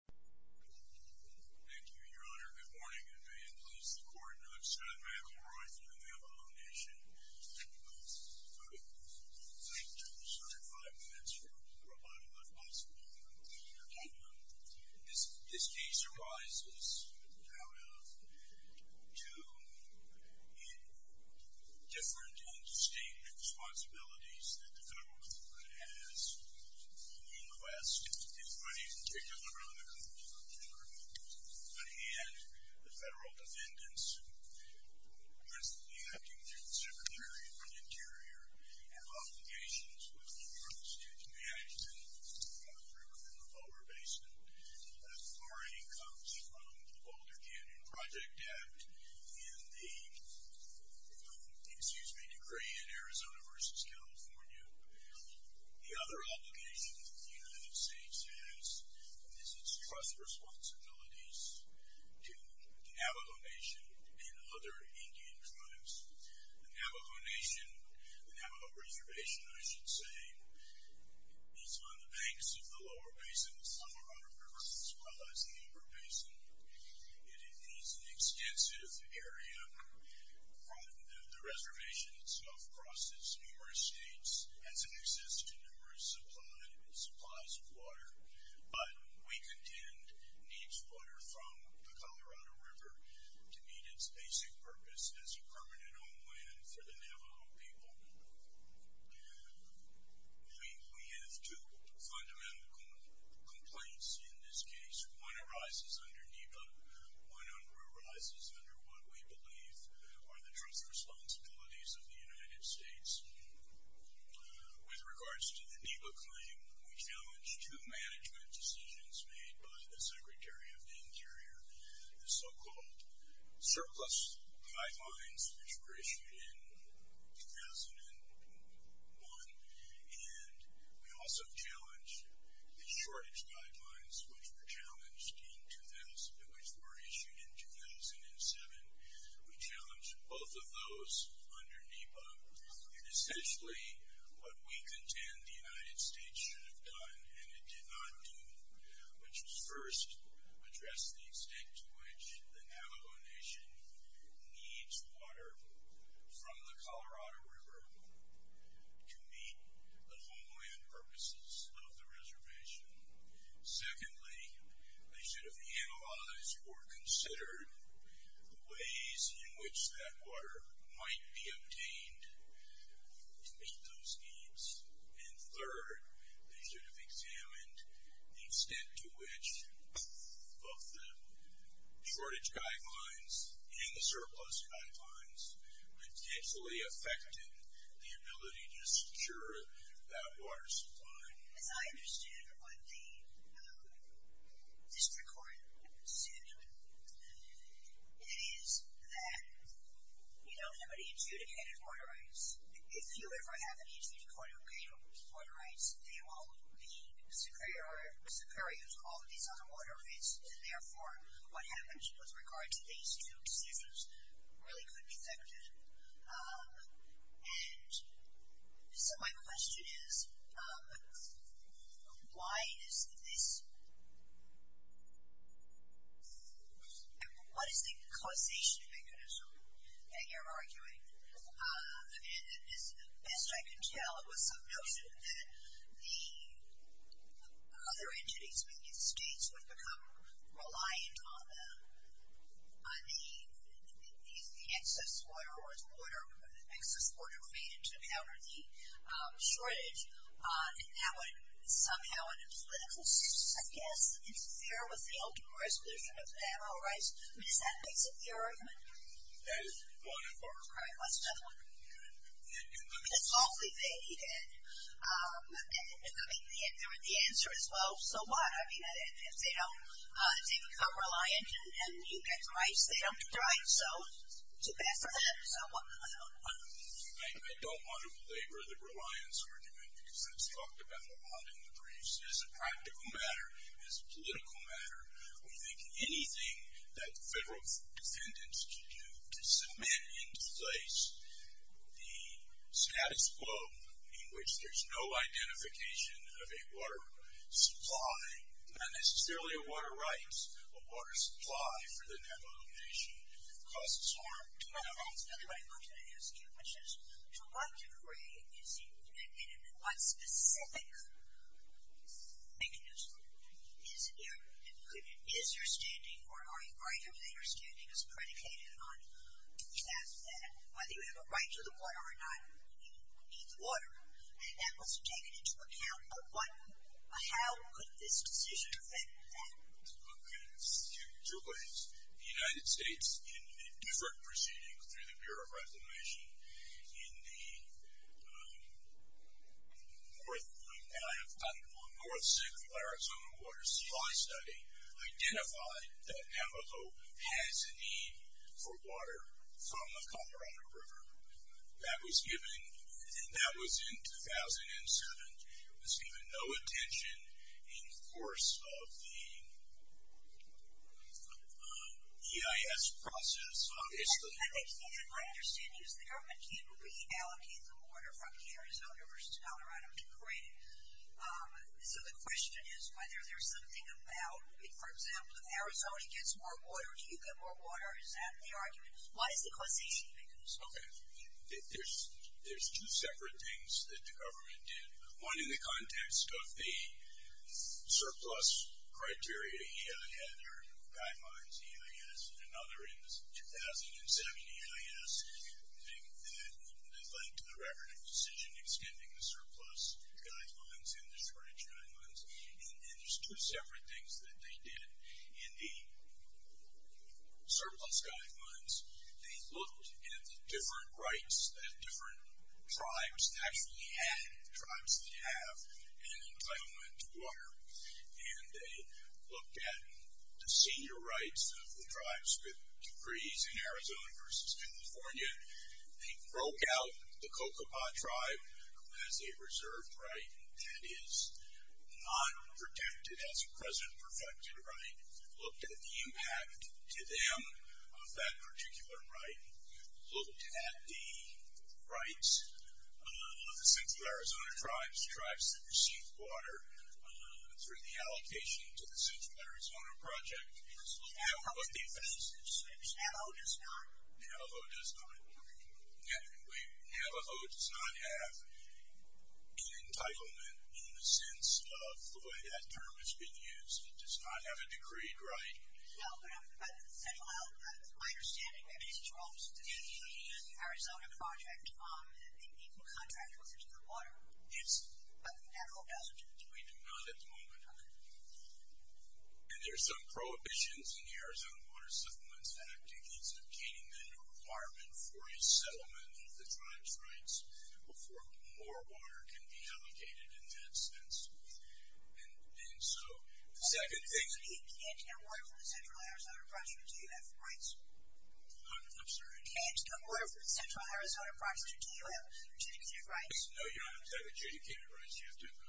Thank you, Your Honor. Good morning, and may it please the Court, I'm Scott McElroy from the Navajo Nation. I'm going to take just five minutes for a lot of what's possible. Okay. This case arises out of two different and distinct responsibilities that the federal government has on the West. It's pretty particular on the control of the federal government, but in the end, the federal defendants, principally acting through the Secretary of the Interior, have obligations with the Department of State to be acting for the river in the Boulder Basin. The RA comes from the Boulder Canyon Project Act and the, excuse me, decree in Arizona v. California. The other obligation that the United States has is its trust responsibilities to the Navajo Nation and other Indian tribes. The Navajo Nation, the Navajo Reservation, I should say, is on the banks of the Lower Basin, the Summerwater River, as well as the Upper Basin. It is an extensive area. The reservation itself crosses numerous states as it exists to numerous supplies of water, but we contend needs water from the Colorado River to meet its basic purpose as a permanent homeland for the Navajo people. We have two fundamental complaints in this case. One arises under NEPA. One arises under what we believe are the trust responsibilities of the United States. With regards to the NEPA claim, we challenged the management decisions made by the Secretary of the Interior, the so-called surplus pipelines, which were issued in 2001, and we also challenged the shortage pipelines, which were issued in 2007. We challenged both of those under NEPA. And essentially, what we contend the United States should have done and it did not do, which was first, address the extent to which the Navajo Nation needs water from the Colorado River to meet the homeland purposes of the reservation. Secondly, they should have analyzed or considered the ways in which that water might be obtained to meet those needs. And third, they should have examined the extent to which both the shortage pipelines and the surplus pipelines potentially affected the ability to secure that water supply. As I understood what the district court assumed, it is that you don't have any adjudicated water rights. If you ever have an adjudicated water rights, they will be superior to all of these other water rights. And therefore, what happens with regard to these two decisions really could be affected. And so my question is, why is this? What is the causation mechanism that you're arguing? And as best I can tell, it was some notion that the other entities within the states would become reliant on the excess water or the excess water created to counter the shortage. And that would somehow in a political sense, I guess, interfere with the open jurisdiction of the Navajo rights. I mean, is that basically your argument? Yes. All right. That's a tough one. I mean, it's awfully vague. And I mean, the answer is, well, so what? I mean, if they become reliant and you get rights, they don't get rights. So too bad for them. I don't want to belabor the reliance argument, because it's talked about a lot in the briefs. As a practical matter, as a political matter, we think anything that the federal defendants can do to cement into place the status quo in which there's no identification of a water supply. And it's clearly a water right. A water supply for the Navajo Nation causes harm to Navajos. Another one I wanted to ask you, which is to what degree and in what specific mechanism is your standing or are you arguing that your standing is predicated on that? you need the water. And that wasn't taken into account. But how could this decision affect that? OK. To raise the United States in a different proceeding through the Bureau of Reclamation in the North Central Arizona Water Supply Study identified that Navajo has a need for water from the Colorado River. That was given. And that was in 2007. There was even no attention in the course of the EIS process, obviously. And my understanding is the government can reallocate the water from the Arizona versus Colorado to create it. So the question is whether there's something about, for example, if Arizona gets more water, do you get more water? Is that the argument? Why is the question? OK. There's two separate things that the government did. One in the context of the surplus criteria. EIA had their guidelines, EIS. And another in the 2007 EIS thing that led to the record of decision extending the surplus guidelines and the shortage guidelines. And there's two separate things that they did in the surplus guidelines. They looked at the different rights that different tribes actually had, the tribes that have an entitlement to water. And they looked at the senior rights of the tribes with decrees in Arizona versus California. They broke out the Cocopah tribe as a reserved right. And that is not protected as a present perfected right. Looked at the impact to them of that particular right. Looked at the rights of the Central Arizona tribes, tribes that received water through the allocation to the Central Arizona project. How are the efficiencies? Navajo does not. Navajo does not. Navajo does not have an entitlement in the sense of the way that term has been used. It does not have a decreed right. No, but my understanding is it's wrong. The Arizona project, the equal contract was into the water. Yes. But Navajo doesn't. We do not at the moment. And there's some prohibitions in the Arizona Water Supplements Act against obtaining the requirement for a settlement of the tribe's rights before more water can be allocated in that sense. And so the second thing is that you can't get water from the Central Arizona project until you have rights. I'm sorry. You can't get water from the Central Arizona project until you have adjudicated rights. No, you don't have to have adjudicated rights. You have to have a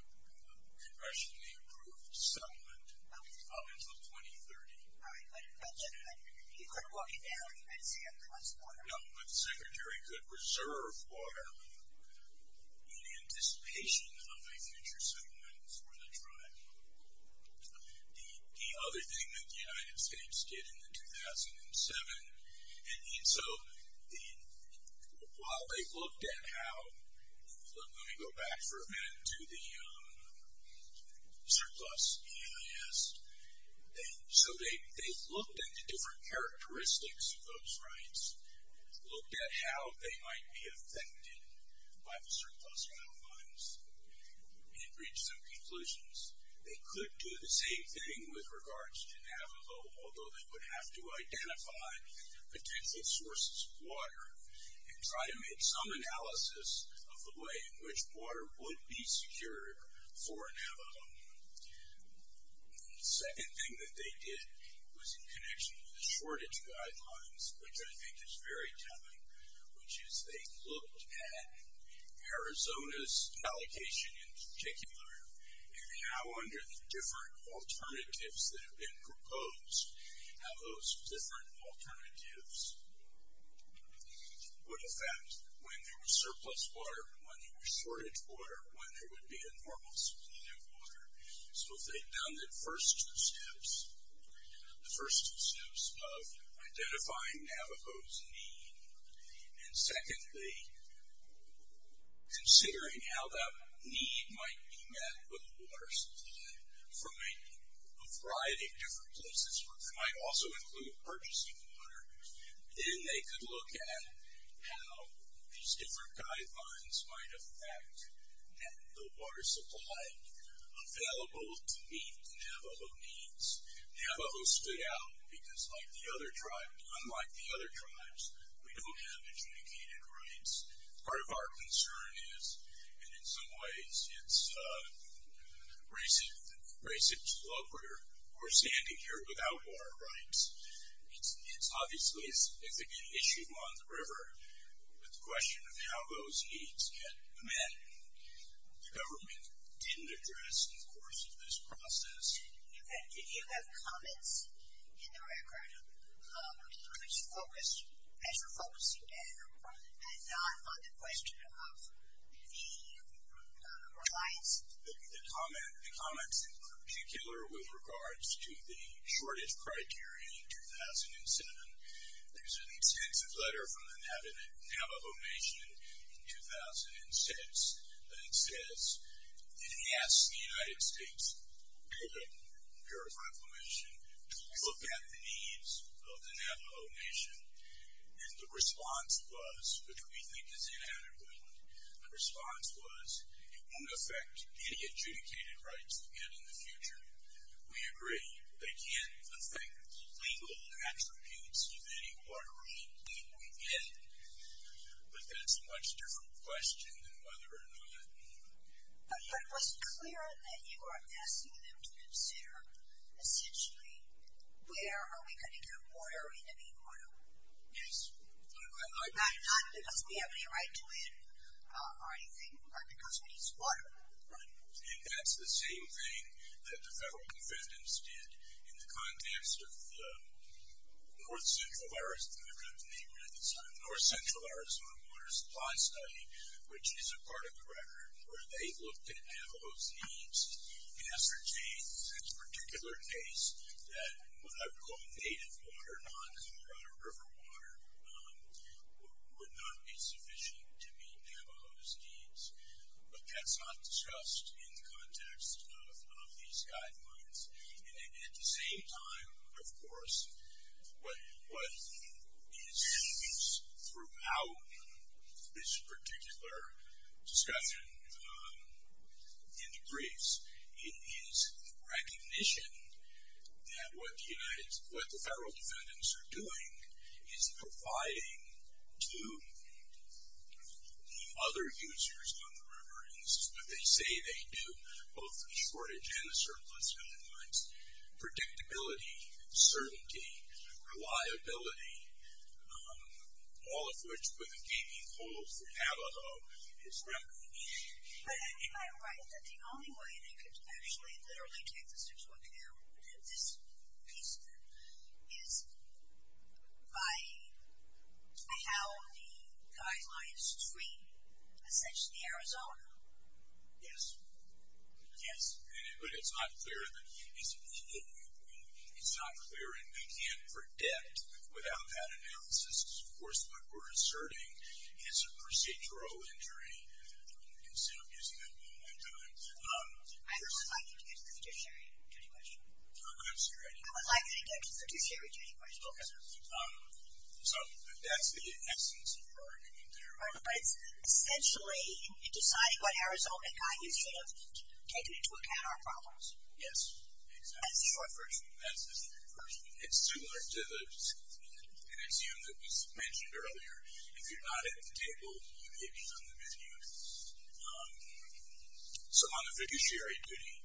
congressionally approved settlement up until 2030. All right. But you could walk it down and see if there was water. No, but the secretary could reserve water in anticipation of a future settlement for the tribe. The other thing that the United States did in 2007, and so while they looked at how, let me go back for a minute to the surplus EIS. So they looked at the different characteristics of those rights, looked at how they might be affected by the surplus water funds, and reached some conclusions. They could do the same thing with regards to Navajo, although they would have to identify potential sources of water and try to make some analysis of the way in which water would be secured for Navajo. The second thing that they did was in connection with the shortage guidelines, which I think is very telling, which is they looked at Arizona's allocation in particular and how under the different alternatives that have been proposed, how those different alternatives would affect when there was surplus water, when there was shortage water, when there would be a normal supply of water. So if they'd done the first two steps, the first two steps of identifying Navajo's need, and secondly, considering how that need might be met with a water supply from a variety of different places where they might also include purchasing water, then they could look at how these different guidelines might affect the water supply available to meet Navajo needs. Navajo stood out because, unlike the other tribes, we don't have adjudicated rights. Part of our concern is, and in some ways it's racist to look we're standing here It's obviously a significant issue on the river, but the question of how those needs get met, the government didn't address in the course of this process. Do you have comments in the record which focus, as you're focusing now, and not on the question of the reliance? The comments in particular with regards to the shortage criteria in 2007, there's an extensive letter from the Navajo Nation in 2006 that it says, it asks the United States Bureau of Reclamation to look at the needs of the Navajo Nation. And the response was, which we think is inadequate, the response was, it won't affect any adjudicated rights we get in the future. We agree, they can't affect legal attributes of any watershed need we get, but that's a much different question than whether or not... But it was clear that you were asking them to consider, essentially, where are we going to get water, are we going to need water? Yes. Not because we have any right to it, or anything, but because we need water. Right. And that's the same thing that the federal defendants did in the context of the North Central Arizona Water Supply Study, which is a part of the record, where they looked at Navajo's needs and ascertained, in this particular case, that what I would call native water, not Colorado River water, would not be sufficient to meet Navajo's needs. But that's not discussed in the context of these guidelines. And at the same time, of course, what is used throughout this particular discussion in the briefs is recognition that what the federal defendants are doing is providing to the other users on the river, and this is what they say they do, both the shortage and the surplus guidelines, predictability, certainty, reliability, all of which were the key goals for Navajo in this record. But isn't that right, that the only way they could actually literally take the 6.2, this piece of it, is by how the guidelines treat, essentially, Arizona? Yes. Yes, but it's not clear. It's not clear and we can't predict without that analysis. Of course, what we're asserting is a procedural injury. You can say I'm using that one more time. I would like you to answer the fiduciary duty question. Oh, good, sorry. I would like you to answer the fiduciary duty question. Okay. So that's the essence of your argument there. But it's essentially in deciding what Arizona guide you should have taken into account our problems. Yes, exactly. That's the short version. That's the short version. It's similar to an issue that was mentioned earlier. If you're not at the table, you may be on the menu. So on the fiduciary duty,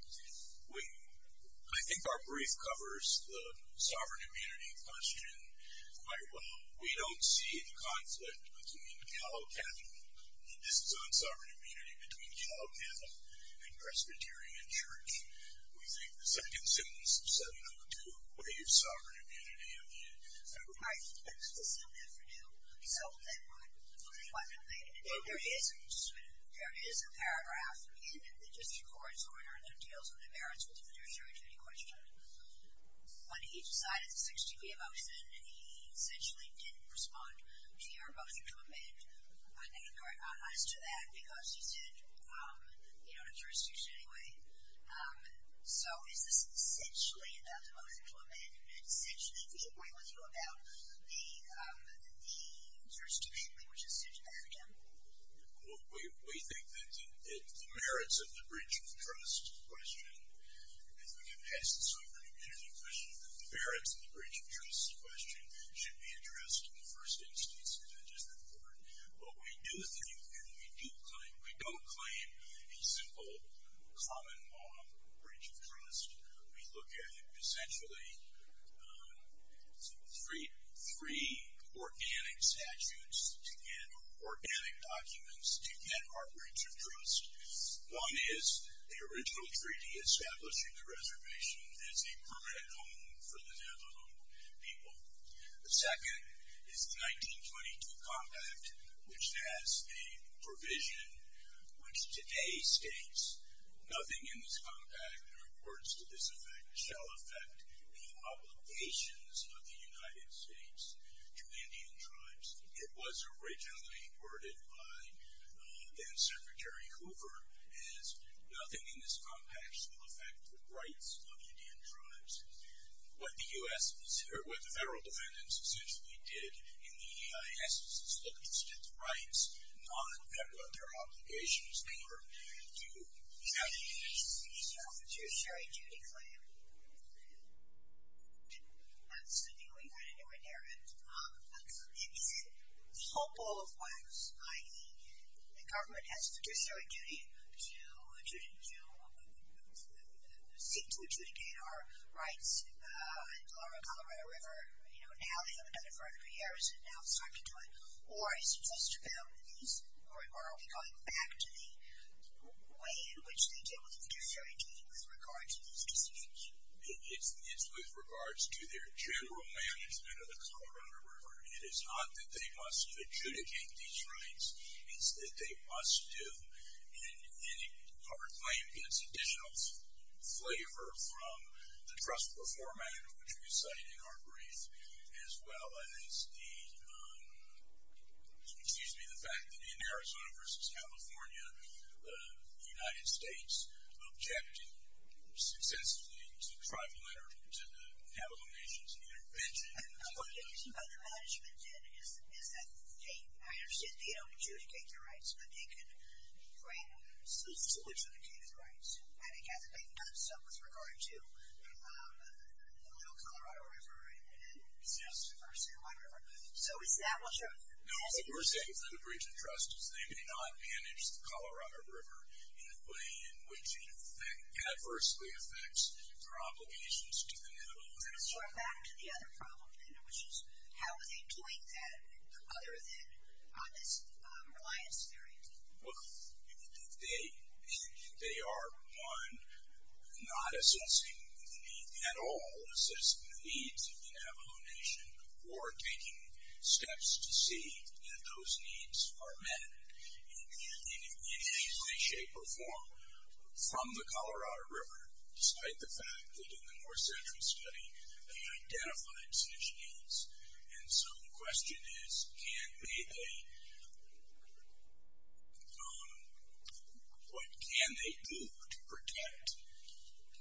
I think our brief covers the sovereign immunity question quite well. We don't see the conflict between Gallo-Capitol, and this is on sovereign immunity, between Gallo-Capitol and Presbyterian Church. We think the second sentence of 702 waives sovereign immunity. I think the second sentence of 702, So there is a paragraph in the district court's order that deals with the merits of the fiduciary duty question. When he decided the 60-day motion, he essentially didn't respond to your motion to amend. I think you're honest to that because you said you don't have jurisdiction anyway. So is this essentially about the motion to amend? It's essentially to avoid with you about the jurisdiction amendment, which is 60 days again. Well, we think that the merits of the breach of trust question, if we can pass the sovereign immunity question, that the merits of the breach of trust question should be addressed in the first instance, and that doesn't matter. What we do think, and we do claim, we don't claim a simple common law breach of trust. We look at essentially three organic statutes to get organic documents to get our breach of trust. One is the original treaty establishing the reservation as a permanent home for the Navajo people. The second is the 1922 compact, which has a provision which today states nothing in this compact or words to this effect shall affect the obligations of the United States to Indian tribes. It was originally worded by then-Secretary Hoover as nothing in this compact shall affect the rights of Indian tribes. What the federal defendants essentially did in the EIS is to look instead at the rights, not at what their obligations were to the Navajos. Is there a fiduciary duty claim? That's the thing we want to do in there. In hopeful of words, i.e., the government has fiduciary duty to seek to adjudicate our rights in the Colorado River. Now they haven't done it for over three years, and now it's time to do it. Or is it just about these? Or are we going back to the way in which they did with fiduciary duty with regard to these decisions? It's with regards to their general management of the Colorado River. It is not that they must adjudicate these rights. It's that they must do, and our claim gets additional flavor from the trustful format of which we cited in our brief as well as the fact that in Arizona versus California, the United States objected successfully to tribal and to the Navajo Nation's intervention. What their management did is that they, I understand, they don't adjudicate their rights, but they can claim self-adjudicated rights. And it hasn't been done so with regard to the little Colorado River and the San Juan River. So is that what you're saying? No, what we're saying for the breach of trust is they may not manage the Colorado River in a way in which it adversely affects their obligations to the Navajo Nation. So we're back to the other problem then, which is how are they doing that other than on this reliance theory? Well, they are, one, not assessing the need at all, not assessing the needs of the Navajo Nation or taking steps to see that those needs are met in any way, shape, or form from the Colorado River, despite the fact that in the more central study they identified such needs. And so the question is what can they do to protect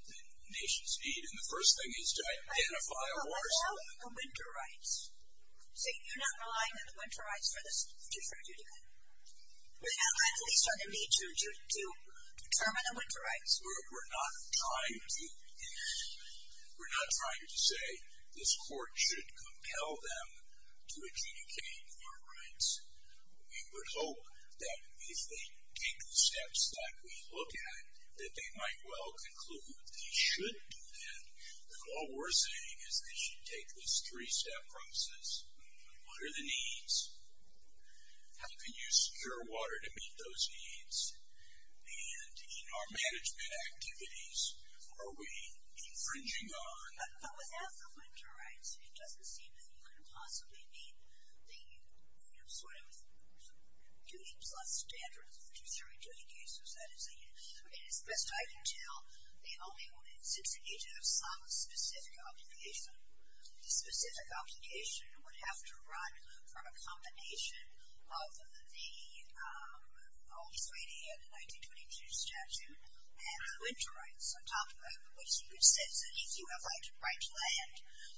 the nation's need? And the first thing is to identify a war zone. But what about the winter rights? So you're not relying on the winter rights for this adjudication? We don't have to at least have a need to determine the winter rights. We're not trying to say this court should compel them to adjudicate farm rights. We would hope that if they take the steps that we look at, that they might well conclude that they should do that, that all we're saying is they should take this three-step process. What are the needs? How can you secure water to meet those needs? And in our management activities, are we infringing on? But without the winter rights, it doesn't seem that you can possibly meet the sort of duty plus standards that is the best I can tell. The only one that sits in Egypt has some specific obligation. The specific obligation would have to run from a combination of the only 3D and the 1922 statute and the winter rights, on top of which you could say that if you have the right to land,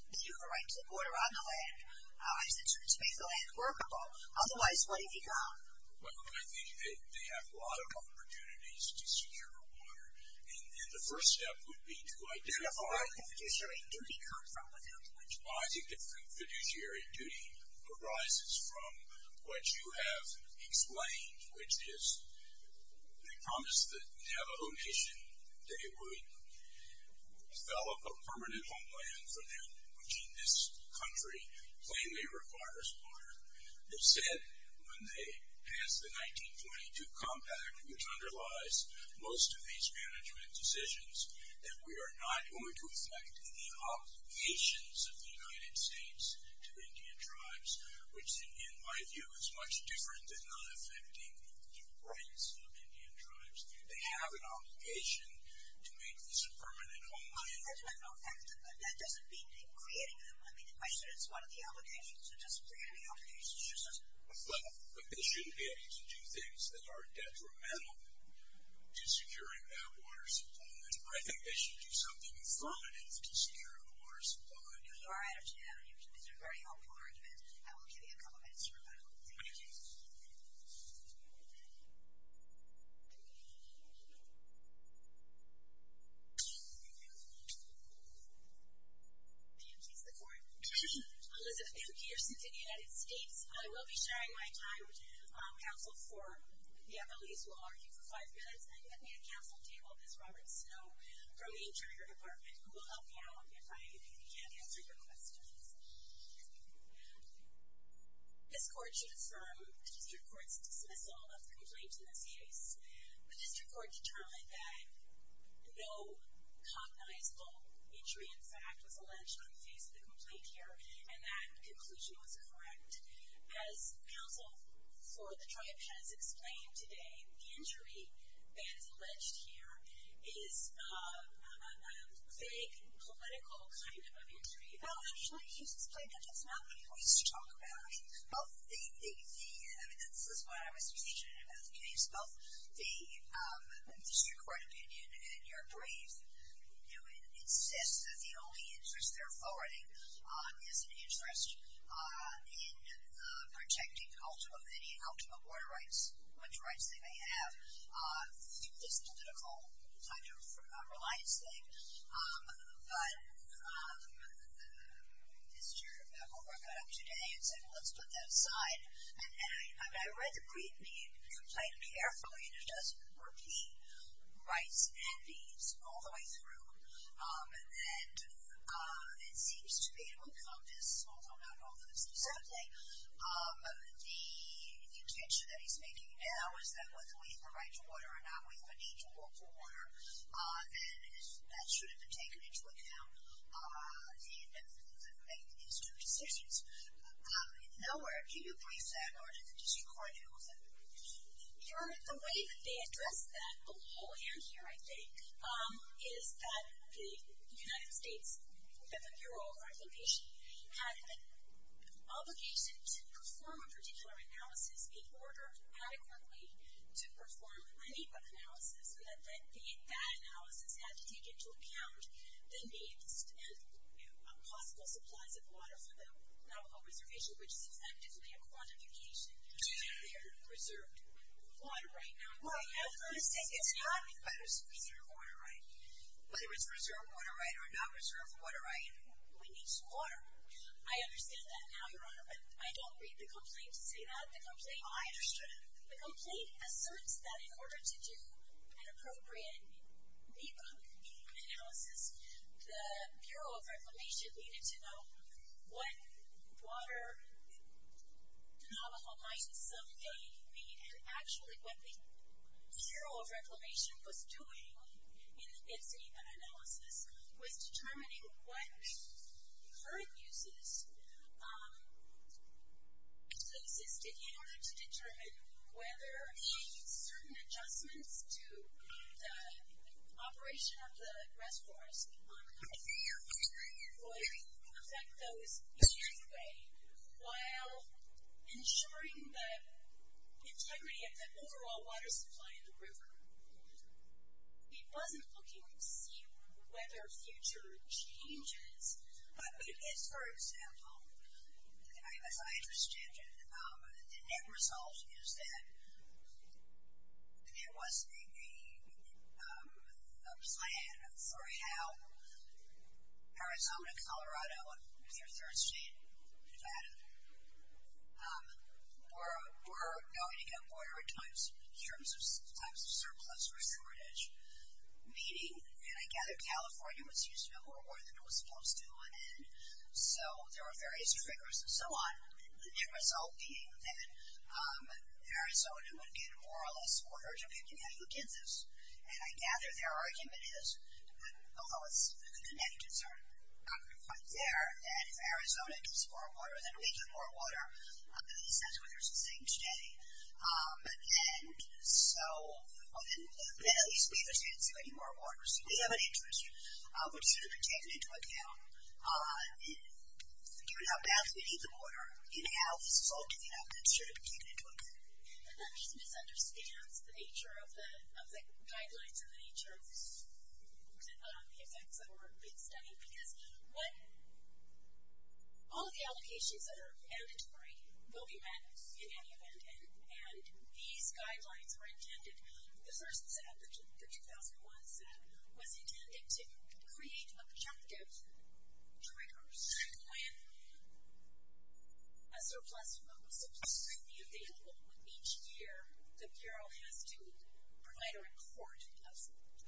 that you have a right to the border on the land, as it turns to be the land workable. Otherwise, what have you done? But I think they have a lot of opportunities to secure water. And the first step would be to identify the fiduciary duty. I think the fiduciary duty arises from what you have explained, which is they promised that Navajo Nation, they would develop a permanent homeland for them, which in this country plainly requires water. They said when they passed the 1922 compact, which underlies most of these management decisions, that we are not going to affect the obligations of the United States to Indian tribes, which in my view is much different than not affecting the rights of Indian tribes. They have an obligation to make this a permanent homeland. But that doesn't mean creating it. I mean, I said it's one of the obligations. It doesn't create any obligations. It just doesn't. But they should be able to do things that are detrimental to securing that water supply. I think they should do something affirmative to securing the water supply. You are right. It's a very helpful argument. I will give you a couple minutes to rebuttal. Thank you. Elizabeth M. Pearson to the United States. I will be sharing my time counsel for the appellees who will argue for five minutes. And with me at counsel table is Robert Snow from the Interior Department, who will help me out if I can't answer your questions. Elizabeth M. Pearson to the United States, The district court's dismissal of the complaint in this case. The district court determined that no cognizable injury, in fact, was alleged on the face of the complaint here, and that conclusion was correct. As counsel for the tribe has explained today, the injury that is alleged here is a vague, political kind of injury. Well, actually, it's not what he wants to talk about. This is what I was thinking about the case. Both the district court opinion and your brief insist that the only interest they're forwarding is an interest in protecting any ultimate water rights, which rights they may have. This political kind of reliance thing. But Mr. Holbrook got up today and said, well, let's put that aside. And I read the brief, and he complained carefully, and he does repeat rights and needs all the way through. And it seems to me to encompass, although not all the way through, certainly the intention that he's making now is that whether we have a right to water or not, we have a need to look for water. And that should have been taken into account in his two decisions. If nowhere, do you brief that, or does the district court do it? The way that they address that below and here, I think, is that the United States, that the Bureau of Arbitration, had an obligation to perform a particular analysis in order adequately to perform an EPA analysis, so that that analysis had to take into account the needs and possible supplies of water for the Navajo Reservation, which is effectively a quantification of their reserved water right now. Well, I'm going to say it's not a reserved water right. Whether it's a reserved water right or not reserved water right, we need some water. I understand that now, Your Honor, but I don't read the complaint to say that. I understood it. The complaint asserts that in order to do an appropriate EPA analysis, the Bureau of Reclamation needed to know what water Navajo might someday need, and actually what the Bureau of Reclamation was doing in its EPA analysis was determining what current uses existed in order to determine whether certain adjustments to the operation of the reservoirs would affect those years away, while ensuring the integrity of the overall water supply in the river. It wasn't looking to see whether future changes, but it is, for example, as I understand it, the net result is that there was a plan for how Arizona, Colorado, and their third state, Nevada, were going to get water at times in terms of surplus or shortage. Meaning, and I gather California was using more water than it was supposed to, and so there were various triggers and so on. The net result being that Arizona would get more or less water depending on who gets this. And I gather their argument is, although the negatives are not quite there, that if Arizona gets more water, then we get more water. At least that's what they're saying today. And so, well then at least we understand it's going to be more water. So we have an interest, but it should have been taken into account. Given how badly we need the water, and how this is all giving up, it should have been taken into account. And that just misunderstands the nature of the guidelines and the nature of the effects of our big study. Because all of the allocations that are mandatory will be met in any event, and these guidelines were intended, the first set, the 2001 set, was intended to create objective triggers when a surplus would be available each year, the bureau has to provide a report of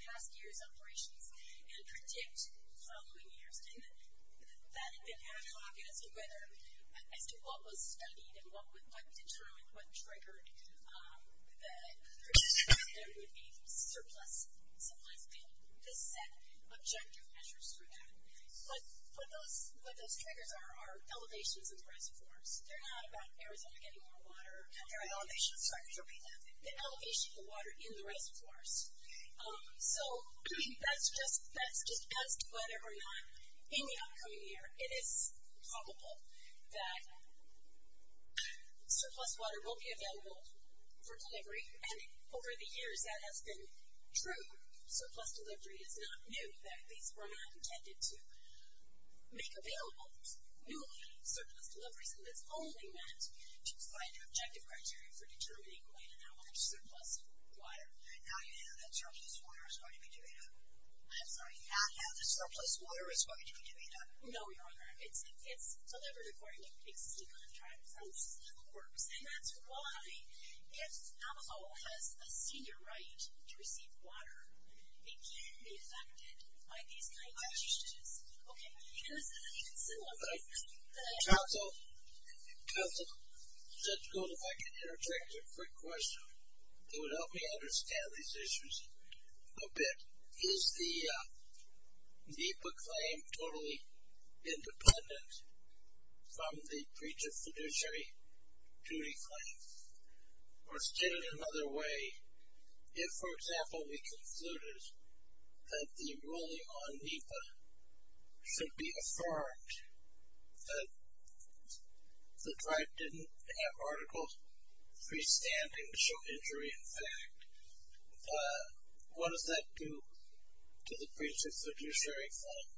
past years' operations and predict following years. And that had been ad hoc as to whether, as to what was studied and what determined, what triggered the prediction that there would be surplus, and this set objective measures for that. But what those triggers are, are elevations in the reservoirs. They're not about Arizona getting more water, or the elevation of the water in the reservoirs. So that's just as to whether or not in the upcoming year, it is probable that surplus water will be available for delivery, and over the years that has been true. Surplus delivery is not new. These were not intended to make available newly surplus deliveries, and it's only meant to find objective criteria for determining when and how much surplus water. Now you know that surplus water is going to be delivered. I'm sorry. Now you know that surplus water is going to be delivered. No, Your Honor. It's delivered according to existing contracts. That's how it works. And that's why if Navajo has a senior right to receive water, it can be affected by these kinds of changes. Okay. And this is an even simpler thing. Counsel, let's go back and interject a quick question. It would help me understand these issues a bit. Is the NEPA claim totally independent from the breach of fiduciary duty claims? Or stated another way, if, for example, we concluded that the ruling on NEPA should be affirmed, that the tribe didn't have articles freestanding to show injury in fact, what does that do to the breach of fiduciary claim?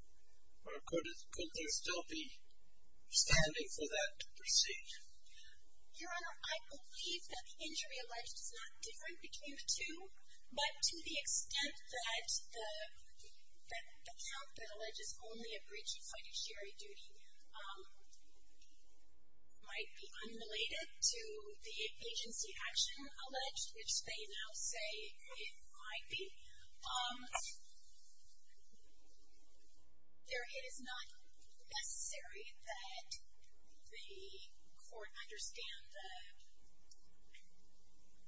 Or could there still be standing for that to proceed? Your Honor, I believe that the injury alleged is not different between the two, but to the extent that the count that alleges only a breach of fiduciary duty might be unrelated to the agency action alleged, which they now say it might be, it is not necessary that the court understand the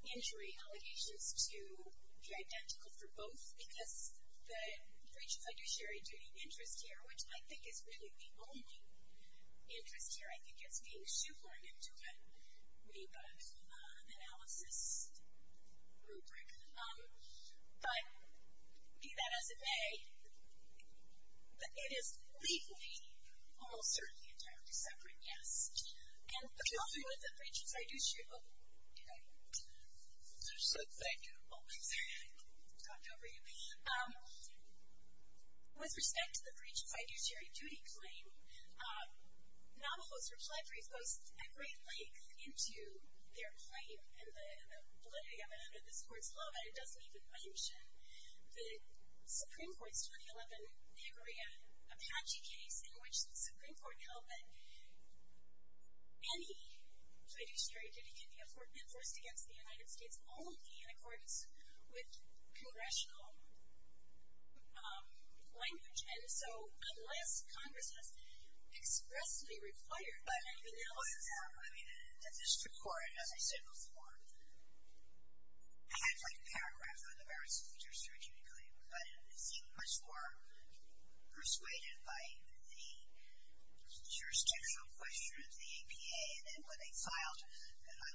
injury allegations to be identical for both because the breach of fiduciary duty interest here, which I think is really the only interest here, I think it's being shoehorned into a NEPA analysis rubric. But be that as it may, it is legally almost certainly entirely separate, yes. And with respect to the breach of fiduciary duty, with respect to the breach of fiduciary duty claim, Navajo's reply brief goes at great length into their claim and the validity of it under this court's law, but it doesn't even mention the Supreme Court's 2011 Niagara Apache case in which the Supreme Court held that any fiduciary duty can be enforced against the United States only in accordance with congressional language. And so unless Congress has expressly required that in the analysis. But, I mean, the district court, as I said before, had like paragraphs on the merits of the fiduciary duty claim, but it seemed much more persuaded by the jurisdictional question of the APA and then when they filed for relief to men, essentially, as I understood what he said, was, well, there's no point in men because there's no jurisdiction, so it never really got into whether the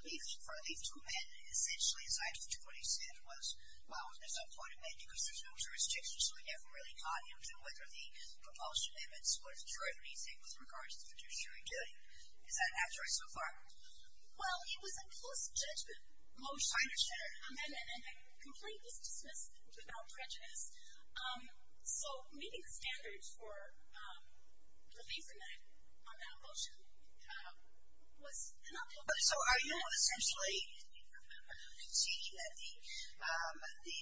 proposed amendments would ensure anything with regards to fiduciary duty. Does that answer it so far? Well, it was a close judgment motion. I understand. And completely dismissed without prejudice. So meeting the standards for relieving from that on that motion was enough. So are you essentially saying that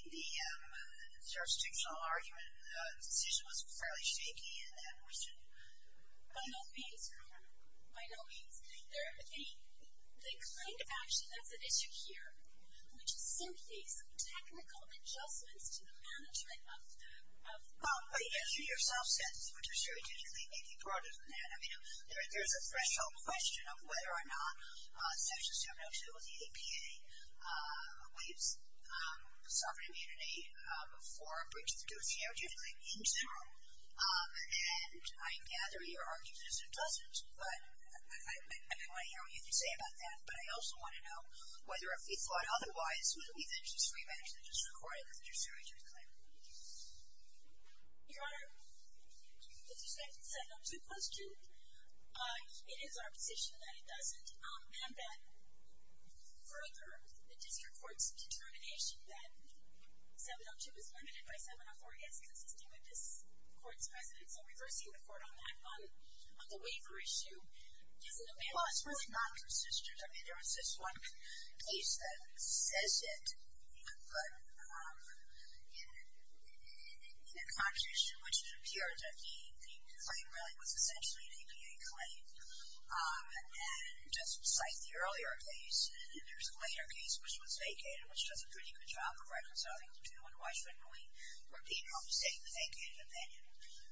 the jurisdictional argument, the decision was fairly shaky in that motion? By no means, Your Honor. By no means. The claim to action that's at issue here, which is simply some technical adjustments to the management of the... Well, as you yourself said, the fiduciary duty claim may be broader than that. I mean, there's a threshold question of whether or not Section 702 of the APA waives sovereign immunity for a breach of the fiduciary duty claim in general. And I gather your argument is it doesn't, but I want to hear what you can say about that. But I also want to know whether, if we thought otherwise, would it be the judiciary manager of the district court in the fiduciary duty claim? Your Honor, with respect to the 702 question, it is our position that it doesn't. And that further, the district court's determination that 702 is limited by 704 is consistent with this court's precedent. So reversing the court on that, on the waiver issue, Well, it's not consistent. I mean, there was this one case that says it, but in a constitution which it appears that the claim really was essentially an APA claim. And just to cite the earlier case, there's a later case which was vacated, which does a pretty good job of reconciling the two. And why shouldn't we repeat what we say in the vacated opinion?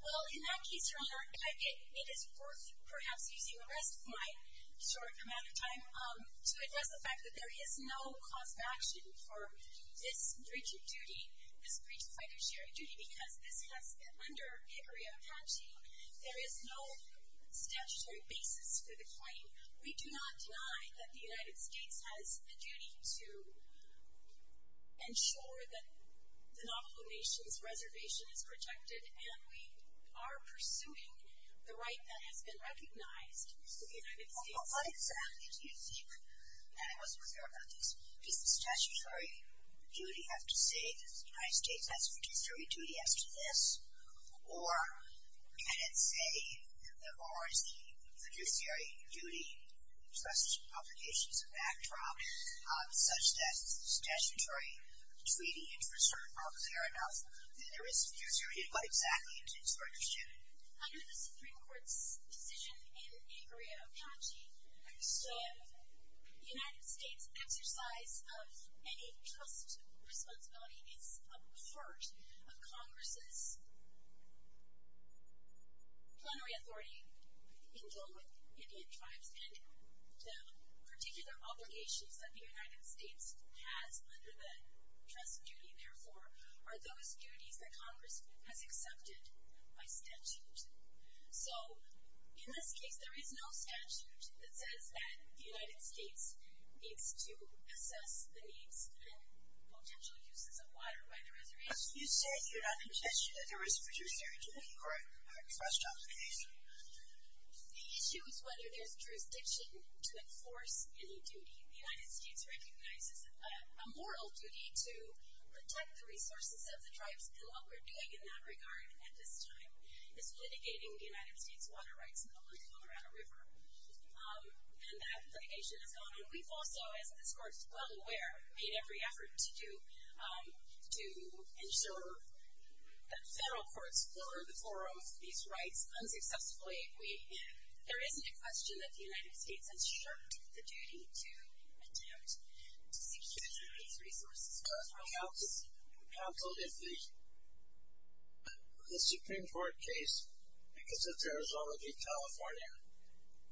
Well, in that case, Your Honor, it is worth perhaps using the rest of my short amount of time to address the fact that there is no cause of action for this breach of fiduciary duty, because this has been under Hickory and Apache. There is no statutory basis for the claim. We do not deny that the United States has a duty to ensure that the Navajo Nation's reservation is protected, and we are pursuing the right that has been recognized to the United States. Well, what exactly do you think? And I wasn't clear about this. Does the statutory duty have to say that the United States has fiduciary duty as to this, or can it say that there are the fiduciary duty obligations and backdrop such that statutory treaty interests are not clear enough? There is fiduciary duty, but exactly in case you are interested. Under the Supreme Court's decision in Hickory and Apache, the United States' exercise of any trust responsibility is a part of Congress's plenary authority in dealing with Indian tribes, and the particular obligations that the United States has under the trust duty, therefore, are those duties that Congress has accepted by statute. So in this case, there is no statute that says that the United States needs to assess the needs and potential uses of water by the reservation. You said you're not convinced that there is fiduciary duty. Correct. Question on the case. The issue is whether there's jurisdiction to enforce any duty. The United States recognizes a moral duty to protect the resources of the tribes, and what we're doing in that regard at this time is litigating the United States water rights bill in the Colorado River, and that litigation has gone on. We've also, as this Court is well aware, made every effort to do to ensure that federal courts overturn these rights unsuccessfully. There isn't a question that the United States has shirked the duty to attempt to secure these resources. Counsel, if the Supreme Court case because it's Arizona v. California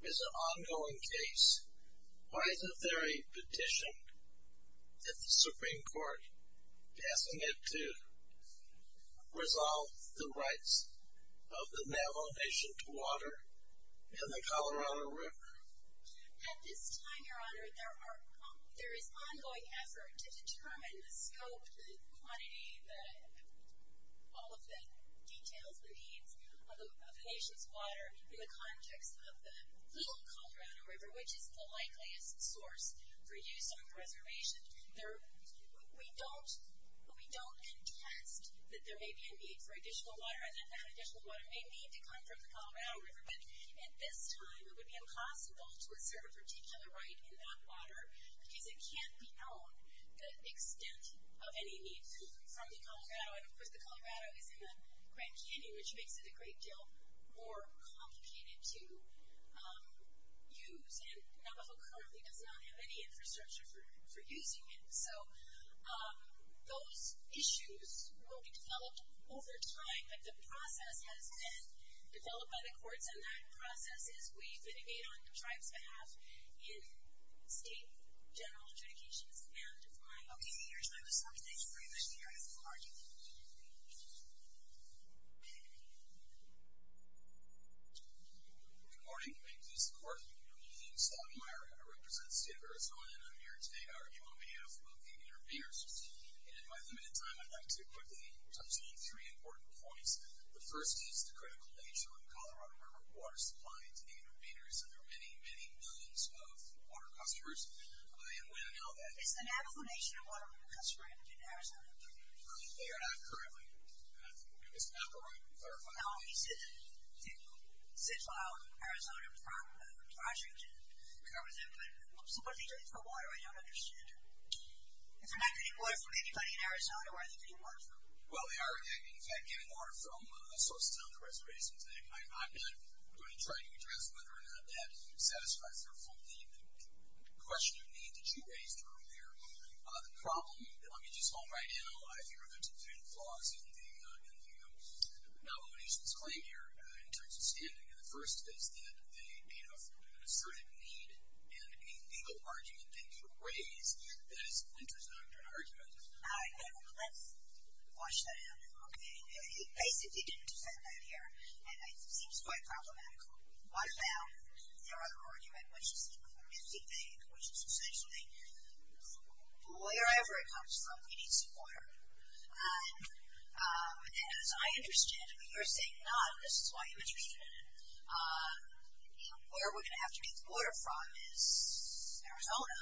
is an ongoing case, why isn't there a petition that the Supreme Court passing it resolve the rights of the Navajo Nation to water in the Colorado River? At this time, Your Honor, there is ongoing effort to determine the scope, the quantity, all of the details, the needs of the Nation's water in the context of the Little Colorado River, which is the likeliest source for use on the reservation. We don't contest that there may be a need for additional water and that that additional water may need to come from the Colorado River, but at this time it would be impossible to assert a particular right in that water because it can't be known the extent of any needs from the Colorado, and of course the Colorado is in the Grand Canyon, which makes it a great deal more complicated to use, and Navajo currently does not have any infrastructure for using it. So those issues will be developed over time, but the process has been developed by the courts, and that process is we vitigate on the tribe's behalf in state general adjudications, and my... Okay, Your Honor, I was talking to the Supreme Court here. Yes, Your Honor. Good morning. My name's Lisa Korth. My name's Don Meyer, and I represent the state of Arizona, and I'm here today to argue on behalf of the intervenors. And in my limited time, I'd like to quickly touch on three important points. The first is the critical nature of the Colorado River water supply to the intervenors, and there are many, many millions of water customers, and we don't know that. Is the Navajo Nation a water customer in Arizona? They are not currently, and I think we're going to stop for a moment and clarify that. Now, we did file an Arizona project and covered that, but what are they getting for water? I don't understand. If they're not getting water from anybody in Arizona, where are they getting water from? Well, they are, in fact, getting water from Sosatown Reservations, and I'm not going to try to address whether or not that satisfies their full need. The question of need that you raised earlier, the problem, I mean, just all right now, I think there's a few flaws in the Navajo Nation's claim here in terms of standing, and the first is that they made up for an assertive need in a legal argument they could raise that is a winter's nocturne argument. All right, let's wash that out, okay? He basically didn't defend that here, and it seems quite problematical. Wash it out. Their other argument, which is the community thing, which is essentially, wherever it comes from, we need some water. As I understand it, you're saying not, and this is why you're interested in it, where we're going to have to get the water from is Arizona,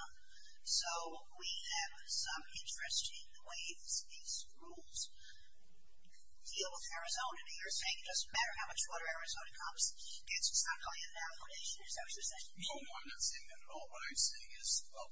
so we have some interest in the way these rules deal with Arizona. You're saying it doesn't matter how much water Arizona comes, it's not really a Navajo Nation, is that what you're saying? No, I'm not saying that at all. What I'm saying is, well,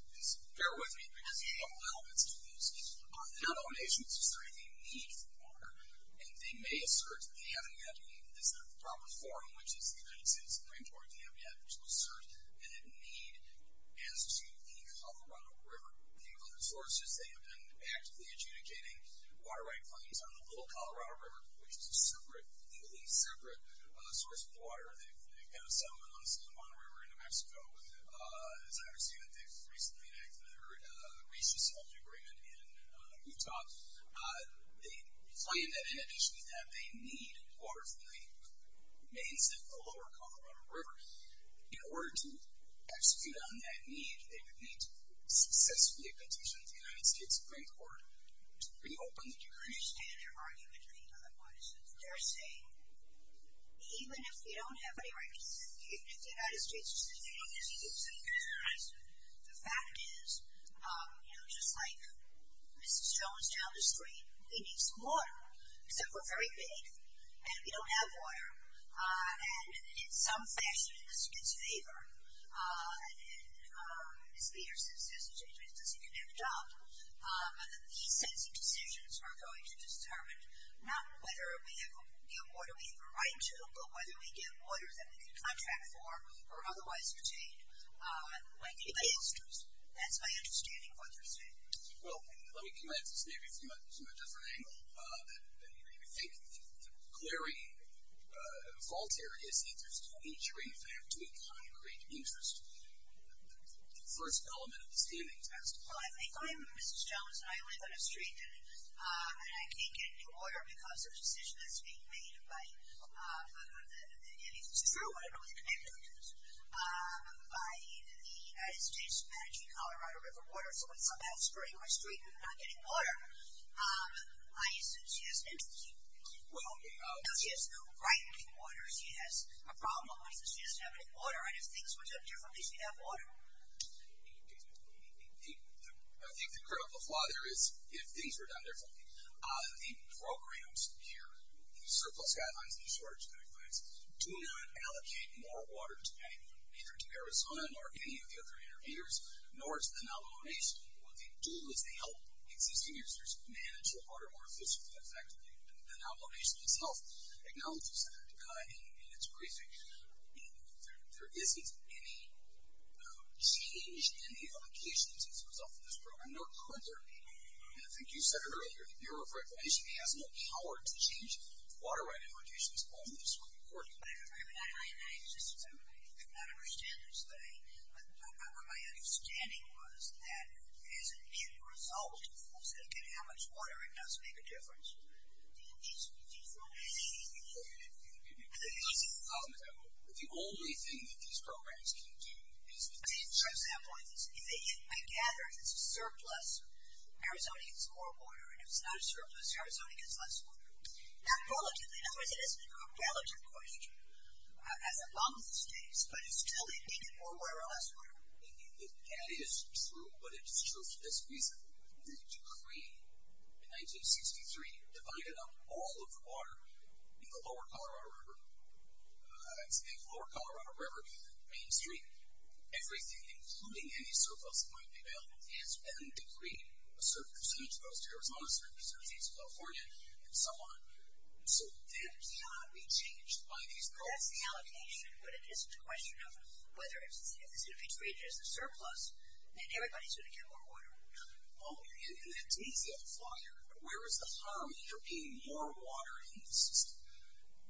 bear with me because we have a little bit to lose. The Navajo Nation has decided they need water, and they may assert that they haven't yet in this proper forum, which is the United States Supreme Court, they have yet to assert a need as to the Colorado River. The other source is they have been actively adjudicating water right claims on the Little Colorado River, which is a separate, completely separate source of water. They've got a settlement on the Sonoma River in New Mexico. As I understand it, they've recently enacted their racist holding agreement in Utah. They claim that, in addition to that, they need water from the mainstay of the Lower Colorado River. In order to execute on that need, they would need to successfully petition the United States Supreme Court to reopen the river. I understand their argument. I think another point is that they're saying, even if we don't have any rights, even if the United States Supreme Court doesn't give us any rights, the fact is, you know, just like Mrs. Jones down the street, we need some water, except we're very big and we don't have water. And in some fashion, this gets favor. And Mrs. Peters, as you say, she doesn't even have a job. And these sets of decisions are going to determine not whether we have water we have a right to, but whether we get water that we can contract for or otherwise retain. That's my understanding of what they're saying. Well, let me come at this maybe from a different angle. I think the clary fault here is that there's too many trees and they have too high a rate of interest. The first element of the standing test. Well, I think I'm Mrs. Jones and I live on a street, and I can't get new water because of a decision that's being made by anything that's true, I don't know what the name of it is, by the United States managing Colorado River water. So it's somehow spurring my street from not getting water. I assume she has an interest. Well, she has no right to water. She has a problem. She doesn't have any water. And if things were done differently, she'd have water. I think the critical flaw there is if things were done differently, the programs here, the surplus guidelines, the shortage guidelines, do not allocate more water to anyone, neither to Arizona nor any of the other interveners, nor to the Navajo Nation. What they do is they help existing users manage their water more efficiently and effectively. The Navajo Nation itself acknowledges that in its briefing. There isn't any change in the allocations as a result of this program, nor could there be. And I think you said it earlier, the Bureau of Reclamation has no power to change water right allocations on this report. I just did not understand this thing. My understanding was that as a net result, how much water it does make a difference. The only thing that these programs can do is to change. For example, I gather if it's a surplus, Arizona gets more water. And if it's not a surplus, Arizona gets less water. Not qualitatively. In other words, it isn't a relative question. As it long as it stays. But still, they need more water or less water. That is true. But it's true for this reason. The decree in 1963 divided up all of the water in the lower Colorado River. It's the lower Colorado River Main Street. Everything, including any surplus that might be available, has been decreed a certain percentage goes to Arizona, a certain percentage to California, and so on. So that cannot be changed by these programs. That's the allocation. But it isn't a question of whether it's infiltrated as a surplus. And everybody's going to get more water. Oh, and that to me is the other flyer. Where is the harm in there being more water in the system?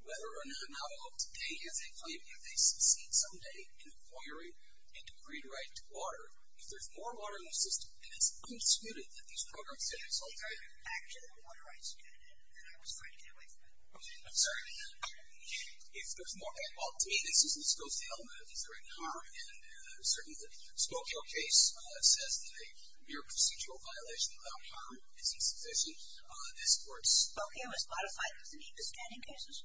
Whether or not an outlaw today has a claim that they succeed someday in acquiring a decreed right to water, if there's more water in the system, and it's unsuited that these programs satisfy that. Actually, the water rights are good. And I was trying to get away from that. Okay, I'm sorry. If there's more water. Well, to me, this goes to the element of decreed harm. And certainly, the Spokio case says that a mere procedural violation without harm is insufficient. This court's – Spokio is modified. Does it need the standing cases?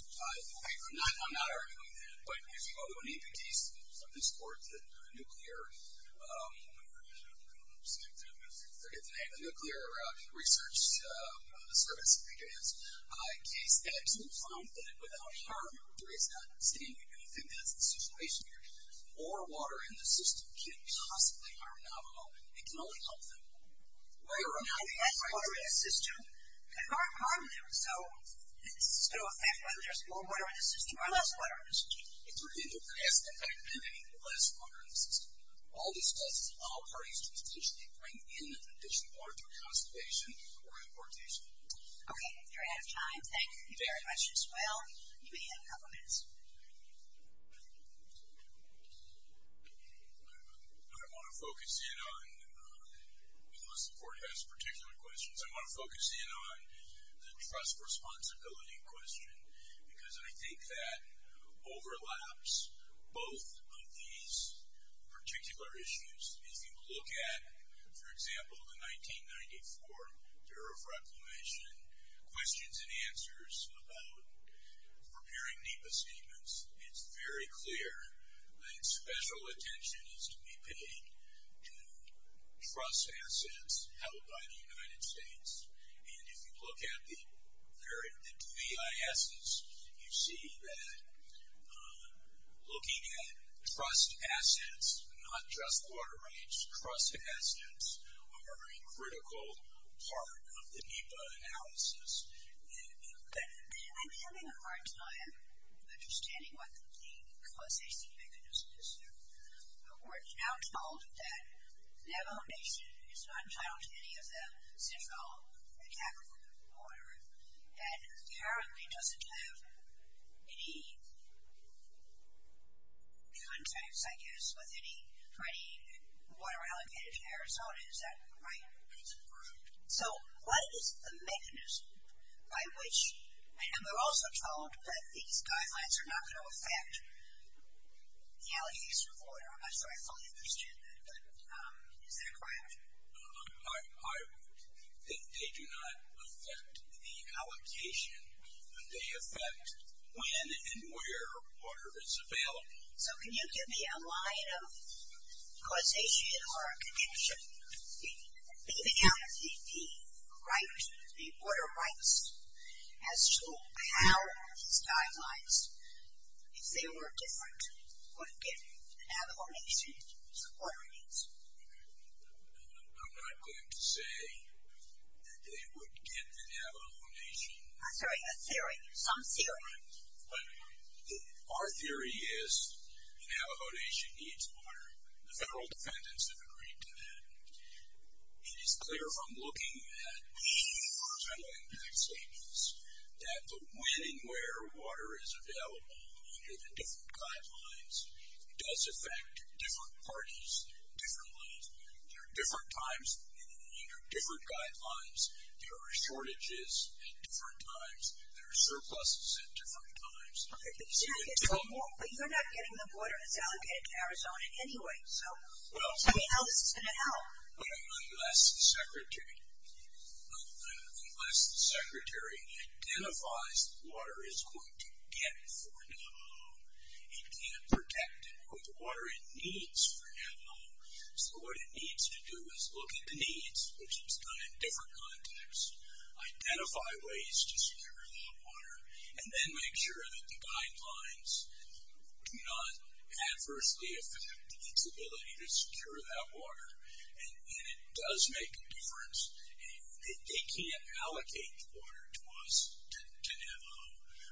I'm not arguing that. But if you go to an AP case, this court, the nuclear – I forget the name – the Nuclear Research Service, I think it is, case absolutely found that without harm there is not standing. And I think that's the situation here. More water in the system can't possibly harm an outlaw. It can only help them. If there's less water in the system, there's more harm there. So this is going to affect whether there's more water in the system or less water in the system. It's going to have the best impact of having less water in the system. All this does is allow parties to potentially bring in additional water through conservation or importation. Okay. We're out of time. Thank you very much as well. You may have a couple minutes. I want to focus in on – unless the court has particular questions. I want to focus in on the trust responsibility question because I think that overlaps both of these particular issues. If you look at, for example, the 1994 Bureau of Reclamation, questions and answers about preparing NEPA statements, it's very clear that special attention is to be paid to trust assets held by the United States. And if you look at the two EISs, you see that looking at trust assets, not just water rights, trust assets are a critical part of the NEPA analysis. I'm having a hard time understanding what the causation mechanism is here. We're now told that Navajo Nation is not entitled to any of the central and capital water and currently doesn't have any contracts, I guess, with any water allocated to Arizona. Is that right? That's correct. So what is the mechanism by which – and we're also told that these guidelines are not going to affect the allocation of water. I'm not sure I fully understand that, but is that correct? I think they do not affect the allocation. They affect when and where water is available. So can you give me a line of causation or a contention leaving out the water rights as to how these guidelines, if they were different, would get Navajo Nation's water needs? I'm not going to say that they would get the Navajo Nation. I'm sorry, a theory, some theory. Our theory is the Navajo Nation needs water. The federal defendants have agreed to that. It is clear from looking at these horizontal impact statements that the when and where water is available under the different guidelines does affect different parties differently. There are different times under different guidelines. There are shortages at different times. There are surpluses at different times. But you're not getting the water that's allocated to Arizona anyway. So tell me how this is going to help. Unless the secretary identifies the water it's going to get for Navajo, it can't protect it with the water it needs for Navajo. So what it needs to do is look at the needs, which is done in different contexts, identify ways to secure that water, and then make sure that the guidelines do not adversely affect its ability to secure that water. And it does make a difference. They can't allocate the water to us, to Navajo,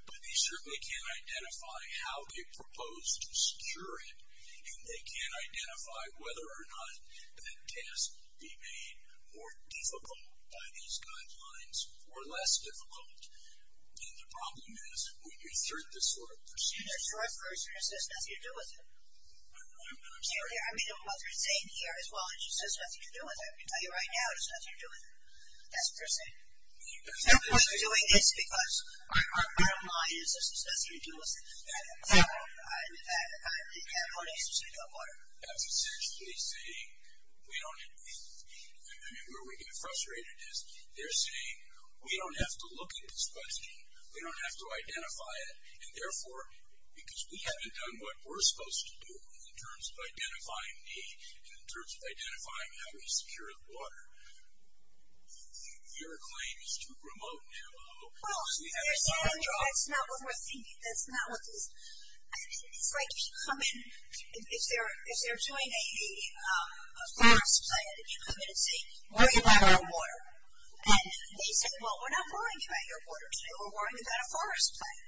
but they certainly can identify how they propose to secure it, and they can identify whether or not that task be made more difficult by these guidelines or less difficult. And the problem is when you start this sort of procedure. The short version is there's nothing to do with it. I know, but I'm sorry. I mean, what they're saying here as well is there's nothing to do with it. I can tell you right now, there's nothing to do with it. That's what they're saying. They're doing this because our bottom line is there's nothing to do with it. In fact, the California Institute of Water. That's essentially saying we don't have to look at this question. We don't have to identify it. And, therefore, because we haven't done what we're supposed to do in terms of identifying needs and in terms of identifying how we secure the water, your claim is too remote now. Well, that's not what we're thinking. That's not what this. It's like if you come in, if they're doing a forest plan and you come in and say, worry about our water. And they say, well, we're not worrying about your water today. We're worrying about a forest plan.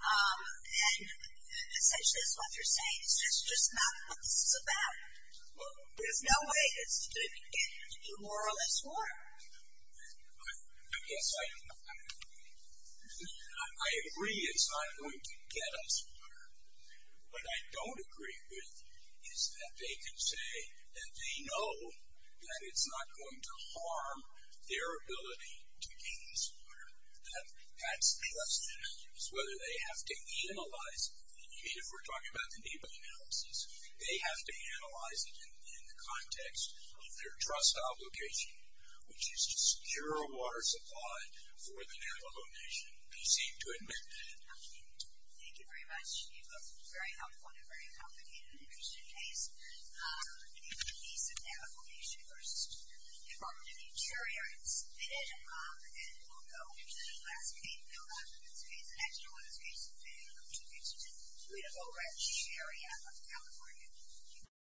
And essentially that's what they're saying. It's just not what this is about. There's no way it's going to be waterless water. I guess I agree it's not going to get us water. What I don't agree with is that they can say that they know that it's not going to harm their ability to gain this water. That's the question. Whether they have to analyze it. If we're talking about the NEPA analysis, they have to analyze it in the context of their trust obligation, which is to secure a water supply for the Navajo Nation. They seem to admit that. Thank you very much. You both were very helpful in a very complicated and interesting case. In the case of Navajo Nation versus the Department of the Interior, it's been and will go. The last case, no, not the last case. Actually, the last case today, which is in the beautiful red cherry out of California.